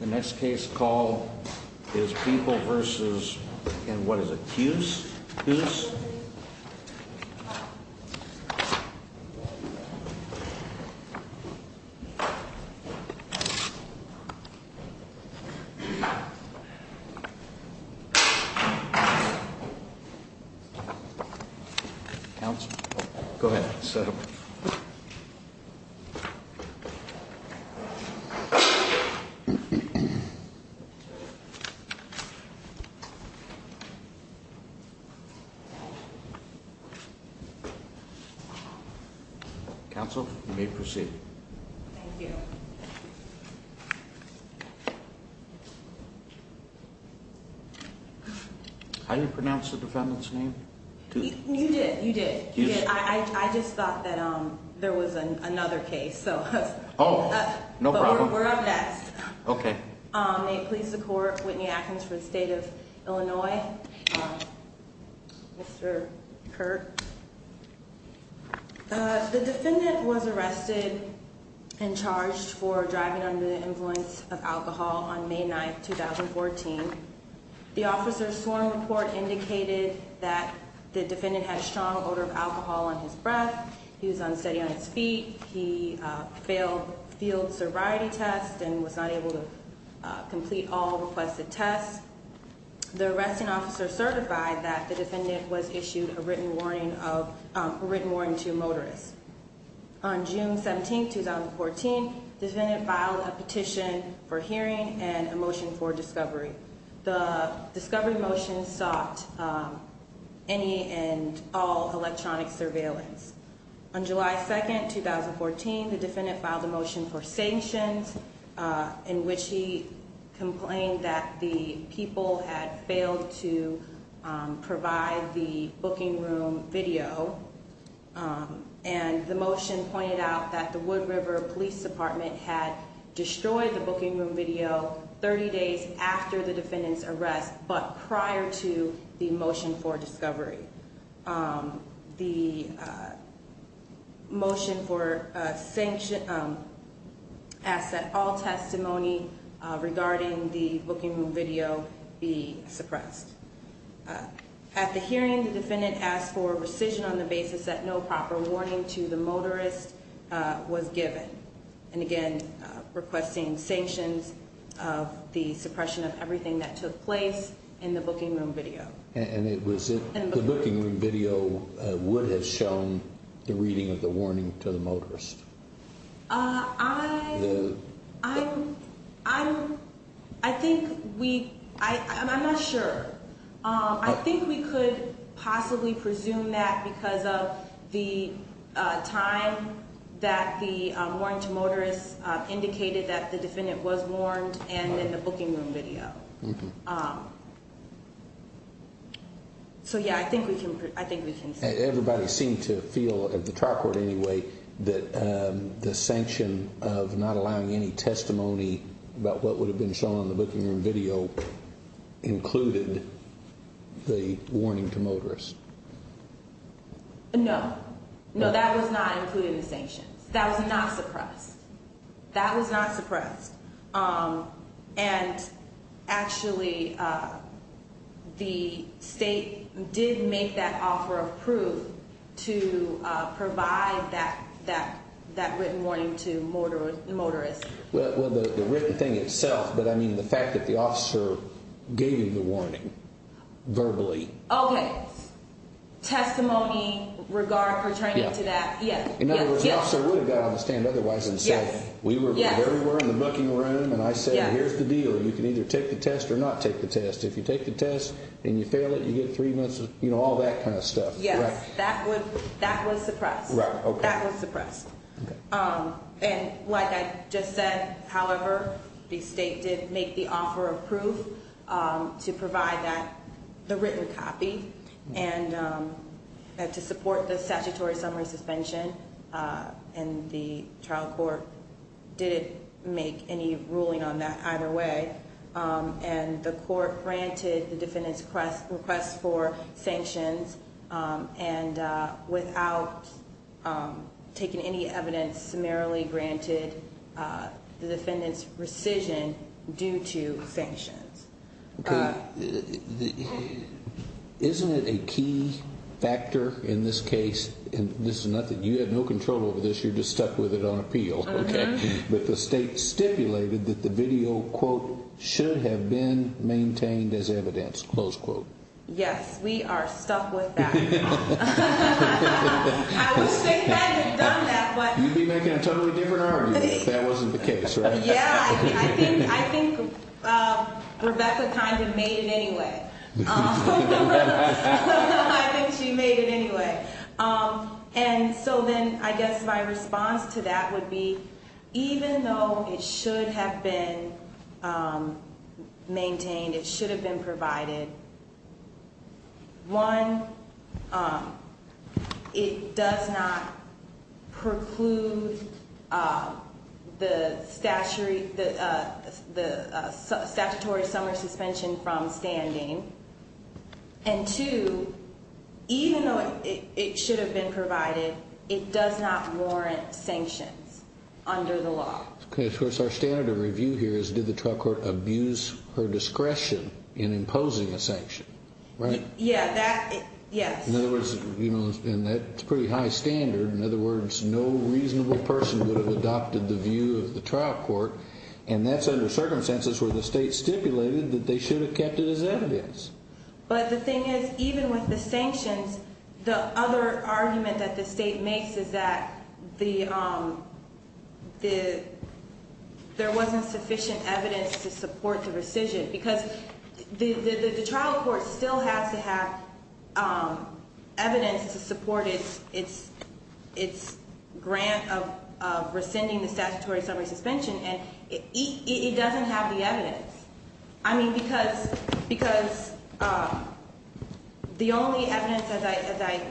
The next case call is People v. Keuss. Counsel, you may proceed. Thank you. How do you pronounce the defendant's name? You did, you did. I just thought that there was another case. Oh, no problem. We're up next. Okay. May it please the Court, Whitney Atkins for the State of Illinois. Mr. Kirk. The defendant was arrested and charged for driving under the influence of alcohol on May 9, 2014. The officer's sworn report indicated that the defendant had a strong odor of alcohol on his breath, he was unsteady on his feet, he failed field sobriety tests and was not able to complete all requested tests. The arresting officer certified that the defendant was issued a written warning to motorists. On June 17, 2014, the defendant filed a petition for hearing and a motion for discovery. The discovery motion sought any and all electronic surveillance. On July 2, 2014, the defendant filed a motion for sanctions in which he complained that the people had failed to provide the booking room video, and the motion pointed out that the Wood River Police Department had destroyed the booking room video 30 days after the defendant's arrest, but prior to the motion for discovery. The motion for sanctions asked that all testimony regarding the booking room video be suppressed. At the hearing, the defendant asked for rescission on the basis that no proper warning to the motorist was given, and again requesting sanctions of the suppression of everything that took place in the booking room video. And it was if the booking room video would have shown the reading of the warning to the motorist. I think we, I'm not sure. I think we could possibly presume that because of the time that the warning to motorists indicated that the defendant was warned and in the booking room video. So, yeah, I think we can. I think we can. Everybody seemed to feel at the track record anyway, that the sanction of not allowing any testimony about what would have been shown in the booking room video included the warning to motorists. No, no, that was not included in the sanctions. That was not suppressed. That was not suppressed. And actually, the state did make that offer of proof to provide that written warning to motorists. Well, the written thing itself, but I mean the fact that the officer gave you the warning verbally. Okay. Testimony, regard pertaining to that. In other words, the officer would have got on the stand otherwise and said, We were everywhere in the booking room, and I said, here's the deal. You can either take the test or not take the test. If you take the test and you fail it, you get three months, you know, all that kind of stuff. Yes, that was suppressed. That was suppressed. And like I just said, however, the state did make the offer of proof to provide that, the written copy, and to support the statutory summary suspension. And the trial court didn't make any ruling on that either way. And the court granted the defendant's request for sanctions and without taking any evidence, summarily granted the defendant's rescission due to sanctions. Okay. Isn't it a key factor in this case, and this is nothing, you have no control over this, you're just stuck with it on appeal. Okay. But the state stipulated that the video, quote, should have been maintained as evidence, close quote. Yes, we are stuck with that. I would say they had done that, but. You'd be making a totally different argument if that wasn't the case, right? Yeah, I think Rebecca kind of made it anyway. I think she made it anyway. And so then I guess my response to that would be, even though it should have been maintained, it should have been provided. One, it does not preclude the statutory summary suspension from standing. And two, even though it should have been provided, it does not warrant sanctions under the law. Okay, of course our standard of review here is did the trial court abuse her discretion in imposing a sanction, right? Yeah, that, yes. In other words, and that's a pretty high standard, in other words, no reasonable person would have adopted the view of the trial court, and that's under circumstances where the state stipulated that they should have kept it as evidence. But the thing is, even with the sanctions, the other argument that the state makes is that there wasn't sufficient evidence to support the rescission. Because the trial court still has to have evidence to support its grant of rescinding the statutory summary suspension, and it doesn't have the evidence. I mean, because the only evidence, as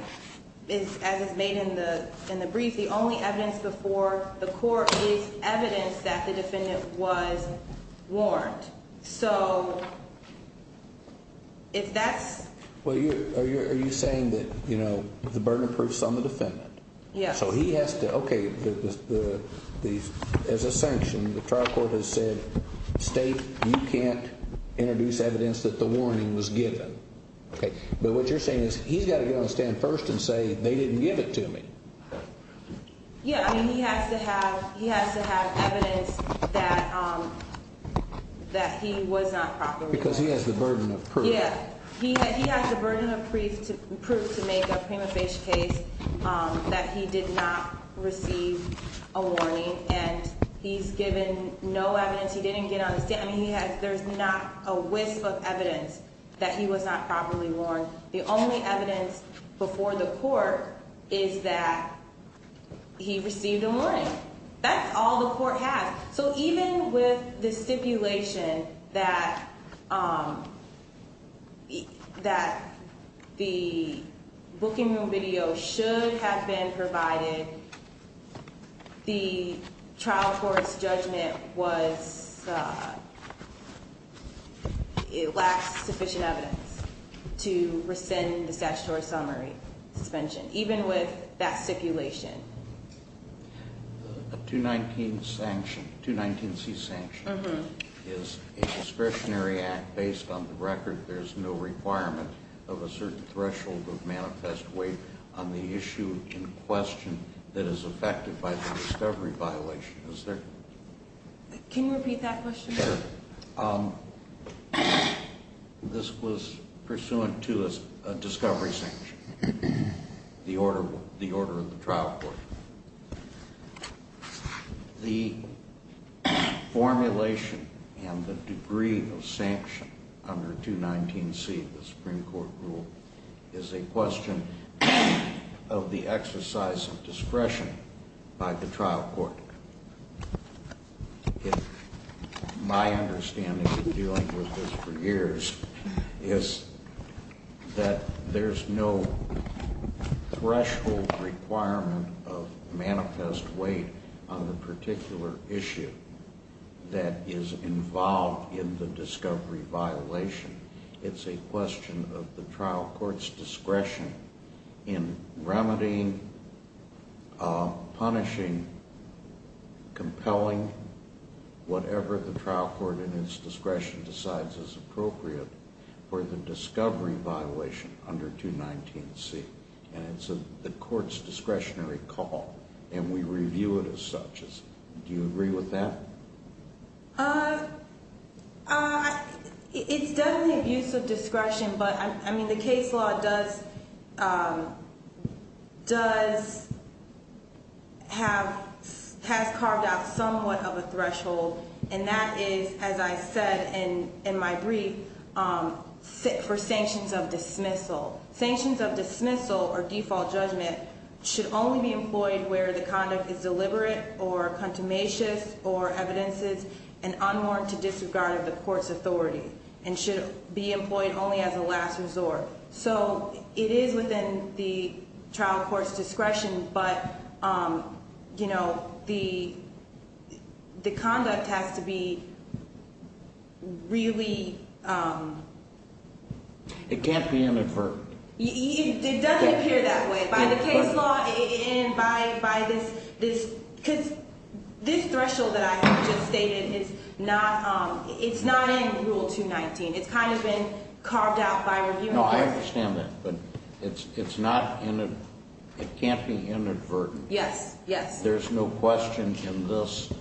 is made in the brief, the only evidence before the court is evidence that the defendant was warned. So if that's... Well, are you saying that the burden of proof is on the defendant? Yes. So he has to, okay, as a sanction, the trial court has said, State, you can't introduce evidence that the warning was given. But what you're saying is he's got to get on the stand first and say they didn't give it to me. Yeah, I mean, he has to have evidence that he was not properly... Because he has the burden of proof. Yeah, he has the burden of proof to make a prima facie case that he did not receive a warning, and he's given no evidence, he didn't get on the stand. I mean, there's not a wisp of evidence that he was not properly warned. The only evidence before the court is that he received a warning. That's all the court has. So even with the stipulation that the booking room video should have been provided, the trial court's judgment was it lacks sufficient evidence to rescind the statutory summary suspension, even with that stipulation. A 219C sanction is a discretionary act based on the record. There's no requirement of a certain threshold of manifest weight on the issue in question that is affected by the discovery violation. Is there? Can you repeat that question? Sure. This was pursuant to a discovery sanction. The order of the trial court. The formulation and the degree of sanction under 219C, the Supreme Court rule, is a question of the exercise of discretion by the trial court. My understanding of dealing with this for years is that there's no threshold requirement of manifest weight on the particular issue that is involved in the discovery violation. It's a question of the trial court's discretion in remedying, punishing, compelling, whatever the trial court in its discretion decides is appropriate for the discovery violation under 219C. And it's the court's discretionary call, and we review it as such. Do you agree with that? It's definitely abuse of discretion, but, I mean, the case law does have, has carved out somewhat of a threshold, and that is, as I said in my brief, for sanctions of dismissal. Sanctions of dismissal or default judgment should only be employed where the conduct is deliberate or contumacious or evidences and unwarranted disregard of the court's authority and should be employed only as a last resort. So it is within the trial court's discretion, but, you know, the conduct has to be really... It can't be inadvertent. It doesn't appear that way by the case law and by this, because this threshold that I just stated, it's not in Rule 219. It's kind of been carved out by review. No, I understand that, but it's not, it can't be inadvertent. Yes, yes. There's no question in this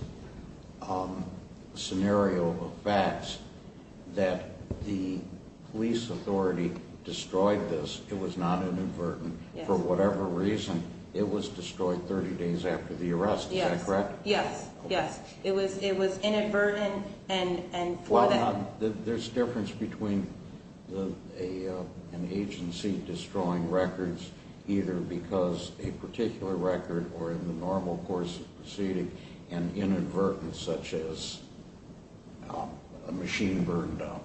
scenario of facts that the police authority destroyed this. It was not inadvertent. Yes. For whatever reason, it was destroyed 30 days after the arrest. Yes. Is that correct? Yes, yes. It was inadvertent, and for that... There's difference between an agency destroying records either because a particular record or in the normal course of proceeding and inadvertent, such as a machine burned out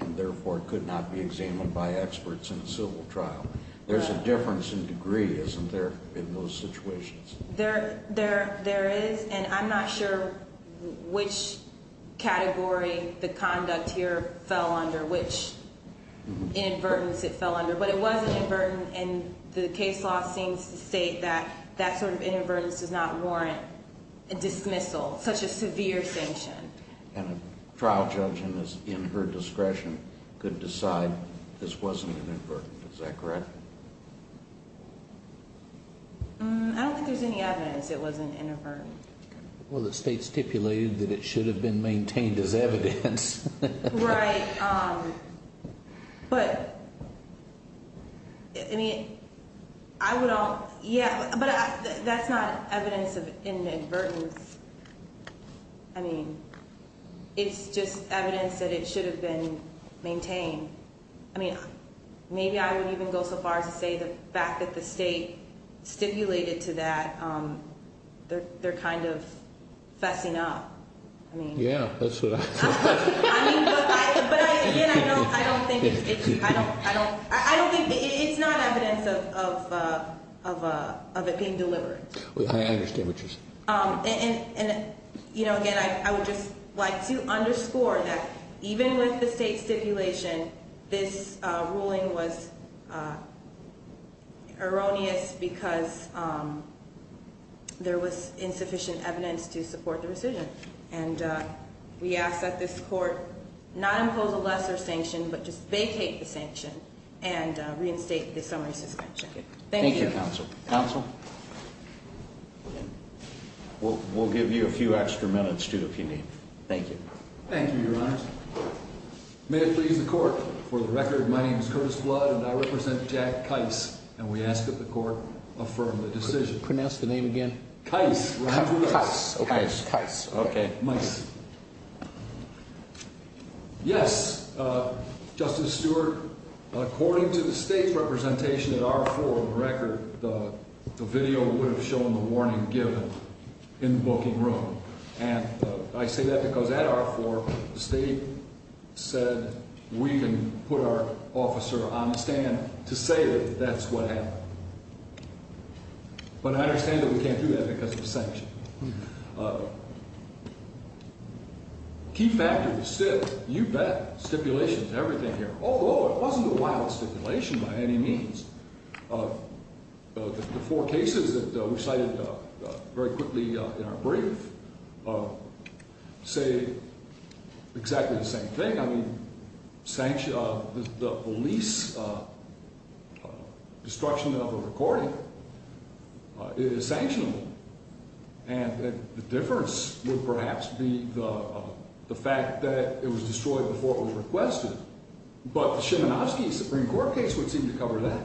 and therefore could not be examined by experts in a civil trial. There's a difference in degree, isn't there, in those situations? There is, and I'm not sure which category the conduct here fell under, which inadvertence it fell under, but it was inadvertent, and the case law seems to state that that sort of inadvertence does not warrant a dismissal, such a severe sanction. And a trial judge in her discretion could decide this wasn't inadvertent. Is that correct? I don't think there's any evidence it wasn't inadvertent. Well, the state stipulated that it should have been maintained as evidence. Right, but, I mean, I would all, yeah, but that's not evidence of inadvertence. I mean, it's just evidence that it should have been maintained. I mean, maybe I would even go so far as to say the fact that the state stipulated to that, they're kind of fessing up. Yeah, that's what I thought. But, again, I don't think it's not evidence of it being deliberate. I understand what you're saying. And, again, I would just like to underscore that even with the state stipulation, this ruling was erroneous because there was insufficient evidence to support the decision. And we ask that this court not impose a lesser sanction, but just vacate the sanction and reinstate the summary suspension. Thank you. Thank you, counsel. Counsel? We'll give you a few extra minutes, too, if you need. Thank you. Thank you, Your Honors. May it please the court, for the record, my name is Curtis Blood, and I represent Jack Kice, and we ask that the court affirm the decision. Pronounce the name again. Kice. Kice. Kice. Okay. Kice. Yes, Justice Stewart, according to the state's representation at R-4, for the record, the video would have shown the warning given in the booking room. And I say that because at R-4, the state said we can put our officer on the stand to say that that's what happened. But I understand that we can't do that because of the sanction. A key factor is still, you bet, stipulations and everything here, although it wasn't a wild stipulation by any means. The four cases that we cited very quickly in our brief say exactly the same thing. The police destruction of a recording is sanctionable, and the difference would perhaps be the fact that it was destroyed before it was requested. But the Szymanowski Supreme Court case would seem to cover that.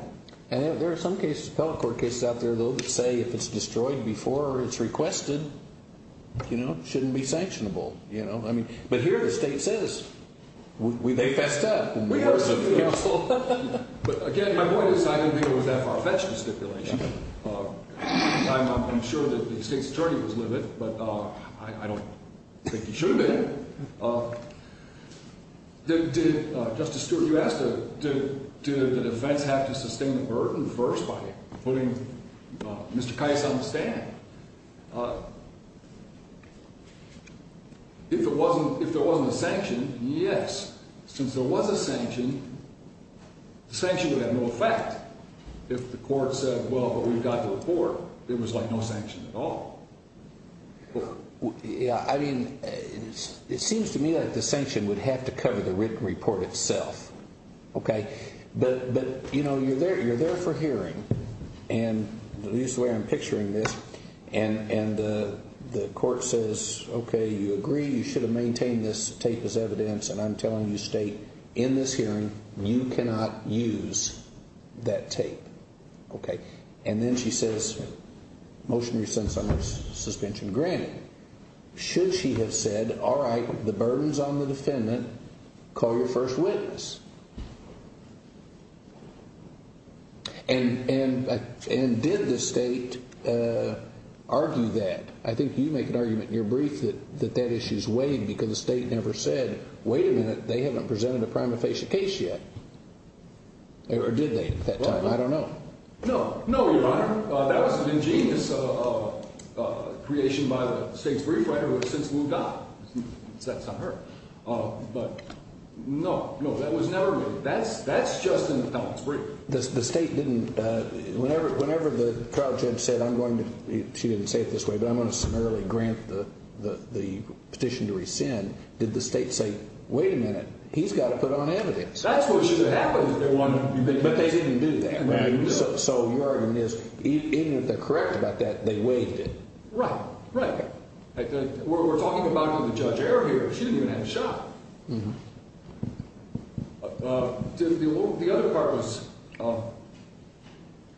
And there are some cases, appellate court cases out there, though, that say if it's destroyed before it's requested, you know, it shouldn't be sanctionable. You know, I mean, but here the state says they fessed up. We are so careful. But, again, my point is I didn't deal with that far-fetched stipulation. I'm sure that the state's attorney was livid, but I don't think he should have been. Justice Stewart, you asked, did the defense have to sustain the burden first by putting Mr. Kais on the stand? If there wasn't a sanction, yes. Since there was a sanction, the sanction would have no effect. If the court said, well, but we've got the report, there was, like, no sanction at all. Yeah, I mean, it seems to me that the sanction would have to cover the written report itself, okay? But, you know, you're there for hearing. And this is the way I'm picturing this. And the court says, okay, you agree you should have maintained this tape as evidence, and I'm telling you, state, in this hearing, you cannot use that tape, okay? And then she says, motion resents on this suspension granted. Should she have said, all right, the burden's on the defendant, call your first witness? And did the state argue that? I think you make an argument in your brief that that issue's weighed because the state never said, wait a minute, they haven't presented a prima facie case yet. Or did they at that time? I don't know. No, no, Your Honor. That was an ingenious creation by the state's brief writer who has since moved on. So that's not her. But, no, no, that was never written. That's just in the defendant's brief. The state didn't, whenever the trial judge said, I'm going to, she didn't say it this way, but I'm going to summarily grant the petition to rescind, did the state say, wait a minute, he's got to put on evidence? That's what should have happened if they wanted to do that. But they didn't do that. So, Your Honor, even if they're correct about that, they weighed it. Right, right. We're talking about the judge error here. She didn't even have a shot. The other part was,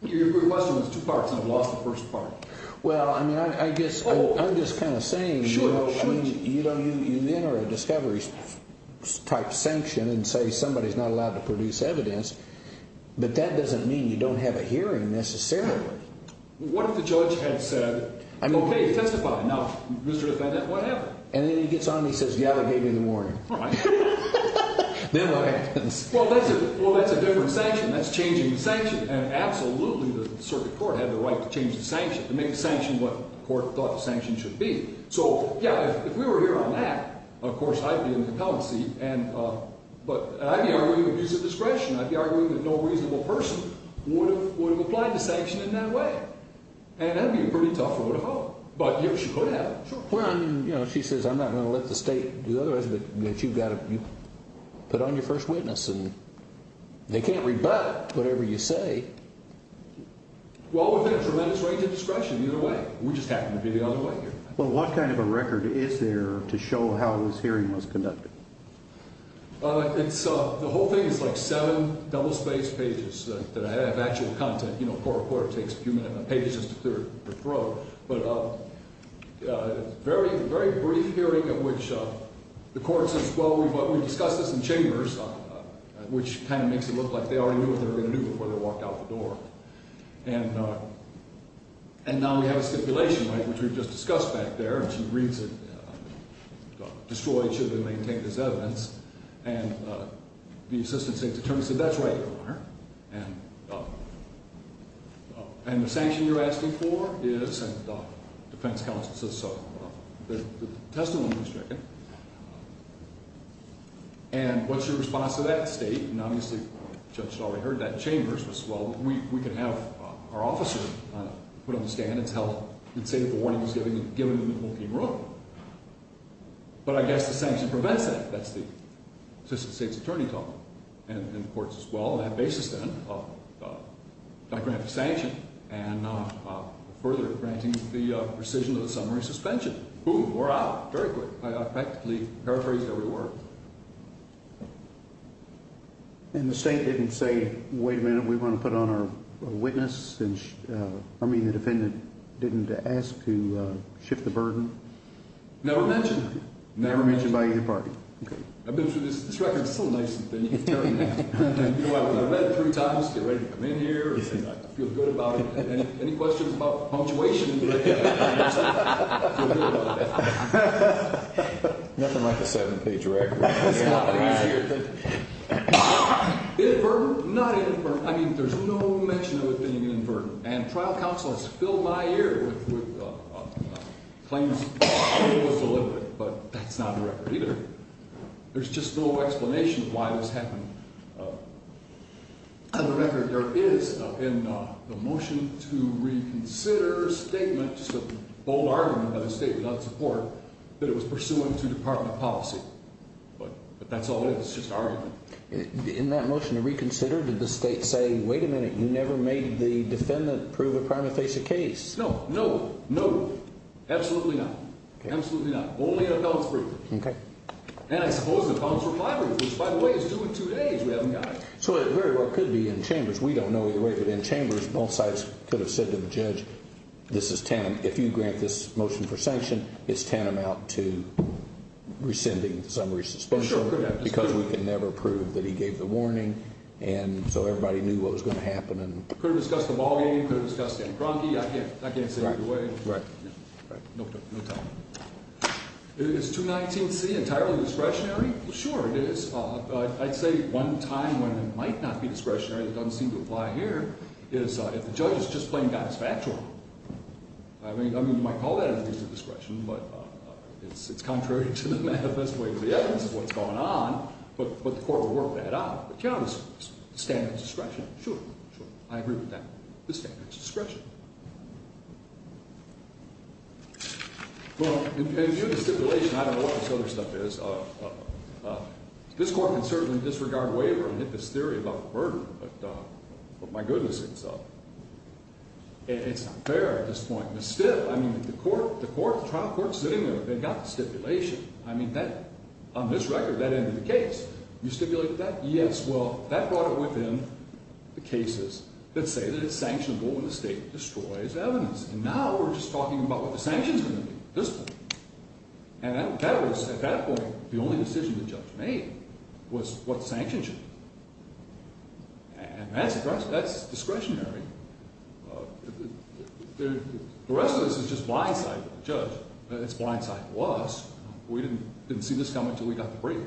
your question was two parts, and I've lost the first part. Well, I mean, I guess I'm just kind of saying, you know, you enter a discovery-type sanction and say somebody's not allowed to produce evidence, but that doesn't mean you don't have a hearing necessarily. What if the judge had said, okay, testify. Now, Mr. Defendant, what happened? And then he gets on and he says, yeah, they gave me the warning. Right. Then what happens? Well, that's a different sanction. That's changing the sanction, and absolutely the circuit court had the right to change the sanction, to make the sanction what the court thought the sanction should be. So, yeah, if we were here on that, of course I'd be in the compelling seat, but I'd be arguing abuse of discretion. I'd be arguing that no reasonable person would have applied the sanction in that way, and that would be a pretty tough vote of hope. But, yes, you could have. Sure. Well, I mean, you know, she says I'm not going to let the state do otherwise, but you've got to put on your first witness, and they can't rebut whatever you say. Well, we've got a tremendous right to discretion either way. We just happen to be the other way here. Well, what kind of a record is there to show how this hearing was conducted? The whole thing is like seven double-spaced pages that have actual content. You know, a court of court takes a few minutes and a page is just a third to throw. But a very, very brief hearing in which the court says, well, we discussed this in chambers, which kind of makes it look like they already knew what they were going to do before they walked out the door. And now we have a stipulation right, which we just discussed back there, and she reads it, destroyed, should have been maintained as evidence, and the assistant state attorney said, that's right, Your Honor. And the sanction you're asking for is, and the defense counsel says so. The testimony was taken. And what's your response to that state? And obviously the judge had already heard that in chambers. Well, we could have our officer put on the stand and say that the warning was given and the whole thing wrote. But I guess the sanction prevents that. That's the assistant state's attorney talk in the courts as well. That basis then, I grant the sanction and further granting the rescission of the summary suspension. Boom, we're out, very quick. I practically paraphrased every word. And the state didn't say, wait a minute, we want to put on our witness? I mean, the defendant didn't ask to shift the burden? Never mentioned. Never mentioned by either party. I've been through this record. It's so nice. I've read it three times. Get ready to come in here. Feel good about it. Any questions about punctuation? Nothing like a seven-page record. Inverted? Not inverted. I mean, there's no mention of it being inverted. And trial counsel has filled my ear with claims it was deliberate, but that's not the record either. There's just no explanation of why this happened. On the record, there is in the motion to reconsider statement, just a bold argument by the state without support, that it was pursuant to department policy. But that's all it is, just argument. In that motion to reconsider, did the state say, wait a minute, you never made the defendant prove a prima facie case? No. No. No. Absolutely not. Absolutely not. Only in a bounce brief. And I suppose the bounce reply brief, which, by the way, is due in two days. We haven't got it. So it very well could be in chambers. We don't know either way. But in chambers, both sides could have said to the judge, this is tantam. If you grant this motion for sanction, it's tantamount to rescinding summary suspension. Because we can never prove that he gave the warning. And so everybody knew what was going to happen. Could have discussed the ball game. Could have discussed Dan Cronky. I can't say either way. Right. Right. No time. Is 219C entirely discretionary? Sure, it is. I'd say one time when it might not be discretionary that doesn't seem to apply here is if the judge is just playing God's factual. I mean, you might call that at least a discretion. But it's contrary to the manifest way of the evidence of what's going on. But the court would work that out. The challenge is the standard is discretion. Sure. Sure. I agree with that. The standard is discretion. Well, in view of the stipulation, I don't know what this other stuff is. This court can certainly disregard waiver and hit this theory about the murder. But my goodness. It's not fair at this point. I mean, the trial court's sitting there. They've got the stipulation. I mean, on this record, that ended the case. You stipulated that? Yes. Well, that brought it within the cases that say that it's sanctionable when the state destroys evidence. And now we're just talking about what the sanctions are going to be at this point. And at that point, the only decision the judge made was what the sanctions should be. And that's discretionary. The rest of this is just blindside to the judge. It's blindside to us. We didn't see this coming until we got the brief.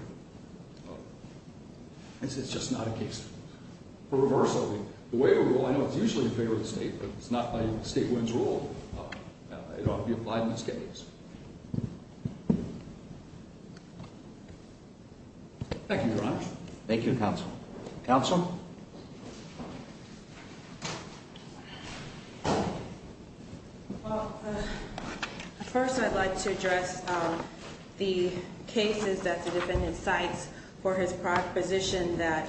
This is just not a case for reversal. The waiver rule, I know it's usually in favor of the state, but it's not a state-wins rule. Thank you, Your Honor. Thank you, Counsel. Counsel? First, I'd like to address the cases that the defendant cites for his proposition that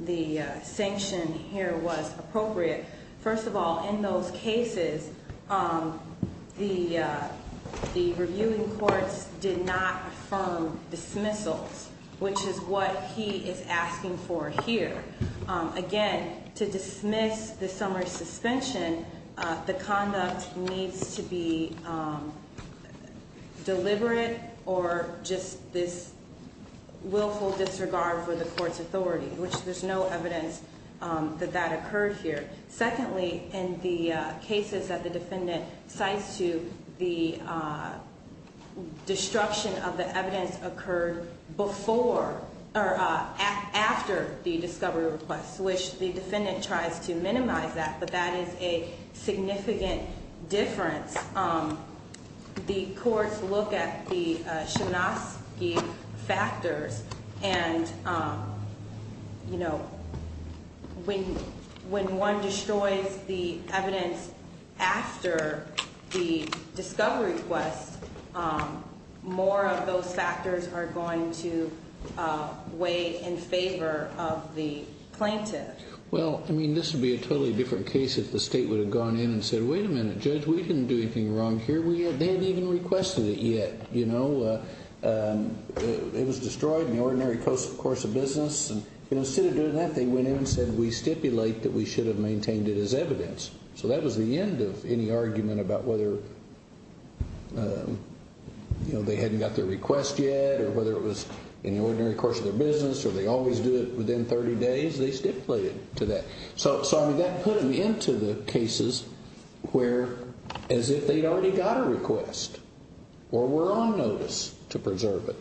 the sanction here was appropriate. First of all, in those cases, the reviewing courts did not affirm dismissals, which is what he is asking for here. Again, to dismiss the summary suspension, the conduct needs to be deliberate or just this willful disregard for the court's authority, which there's no evidence that that occurred here. Secondly, in the cases that the defendant cites to, the destruction of the evidence occurred after the discovery request, which the defendant tries to minimize that, but that is a significant difference. The courts look at the Shanoski factors, and when one destroys the evidence after the discovery request, more of those factors are going to weigh in favor of the plaintiff. Well, I mean, this would be a totally different case if the state would have gone in and said, wait a minute, Judge, we didn't do anything wrong here. They haven't even requested it yet. It was destroyed in the ordinary course of business. Instead of doing that, they went in and said, we stipulate that we should have maintained it as evidence. So that was the end of any argument about whether they hadn't got their request yet or whether it was in the ordinary course of their business or they always do it within 30 days, they stipulated to that. So, I mean, that put them into the cases where as if they'd already got a request or were on notice to preserve it.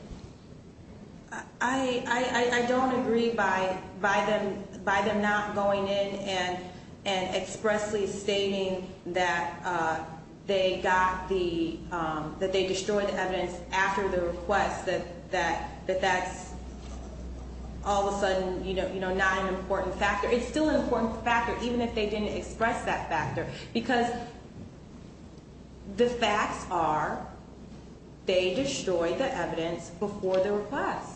I don't agree by them not going in and expressly stating that they destroyed the evidence after the request, that that's all of a sudden not an important factor. It's still an important factor, even if they didn't express that factor, because the facts are they destroyed the evidence before the request.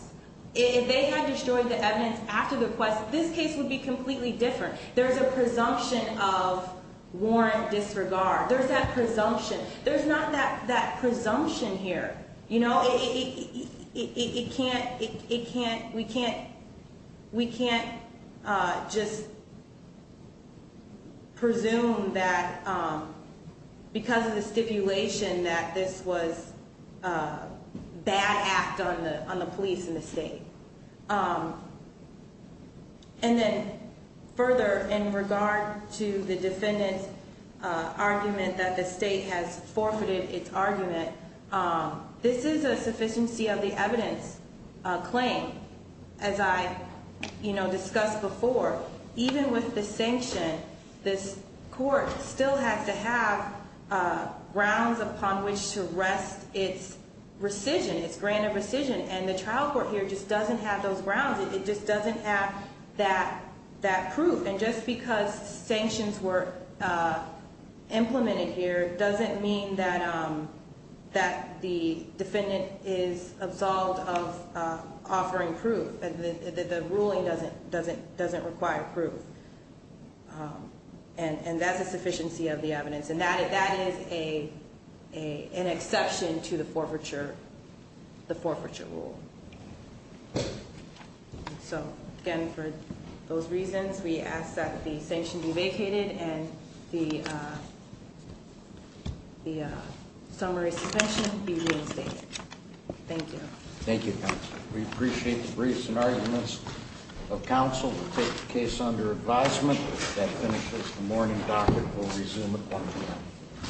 If they had destroyed the evidence after the request, this case would be completely different. There's a presumption of warrant disregard. There's that presumption. There's not that presumption here. You know, we can't just presume that because of the stipulation that this was a bad act on the police in the state. And then further, in regard to the defendant's argument that the state has forfeited its argument, this is a sufficiency of the evidence claim. As I, you know, discussed before, even with the sanction, this court still has to have grounds upon which to rest its rescission, its grant of rescission. And the trial court here just doesn't have those grounds. It just doesn't have that proof. And just because sanctions were implemented here doesn't mean that the defendant is absolved of offering proof. The ruling doesn't require proof. And that's a sufficiency of the evidence. And that is an exception to the forfeiture rule. So, again, for those reasons, we ask that the sanction be vacated and the summary suspension be reinstated. Thank you. Thank you, counsel. We appreciate the briefs and arguments of counsel. We'll take the case under advisement. That finishes the morning docket. We'll resume at 1 p.m.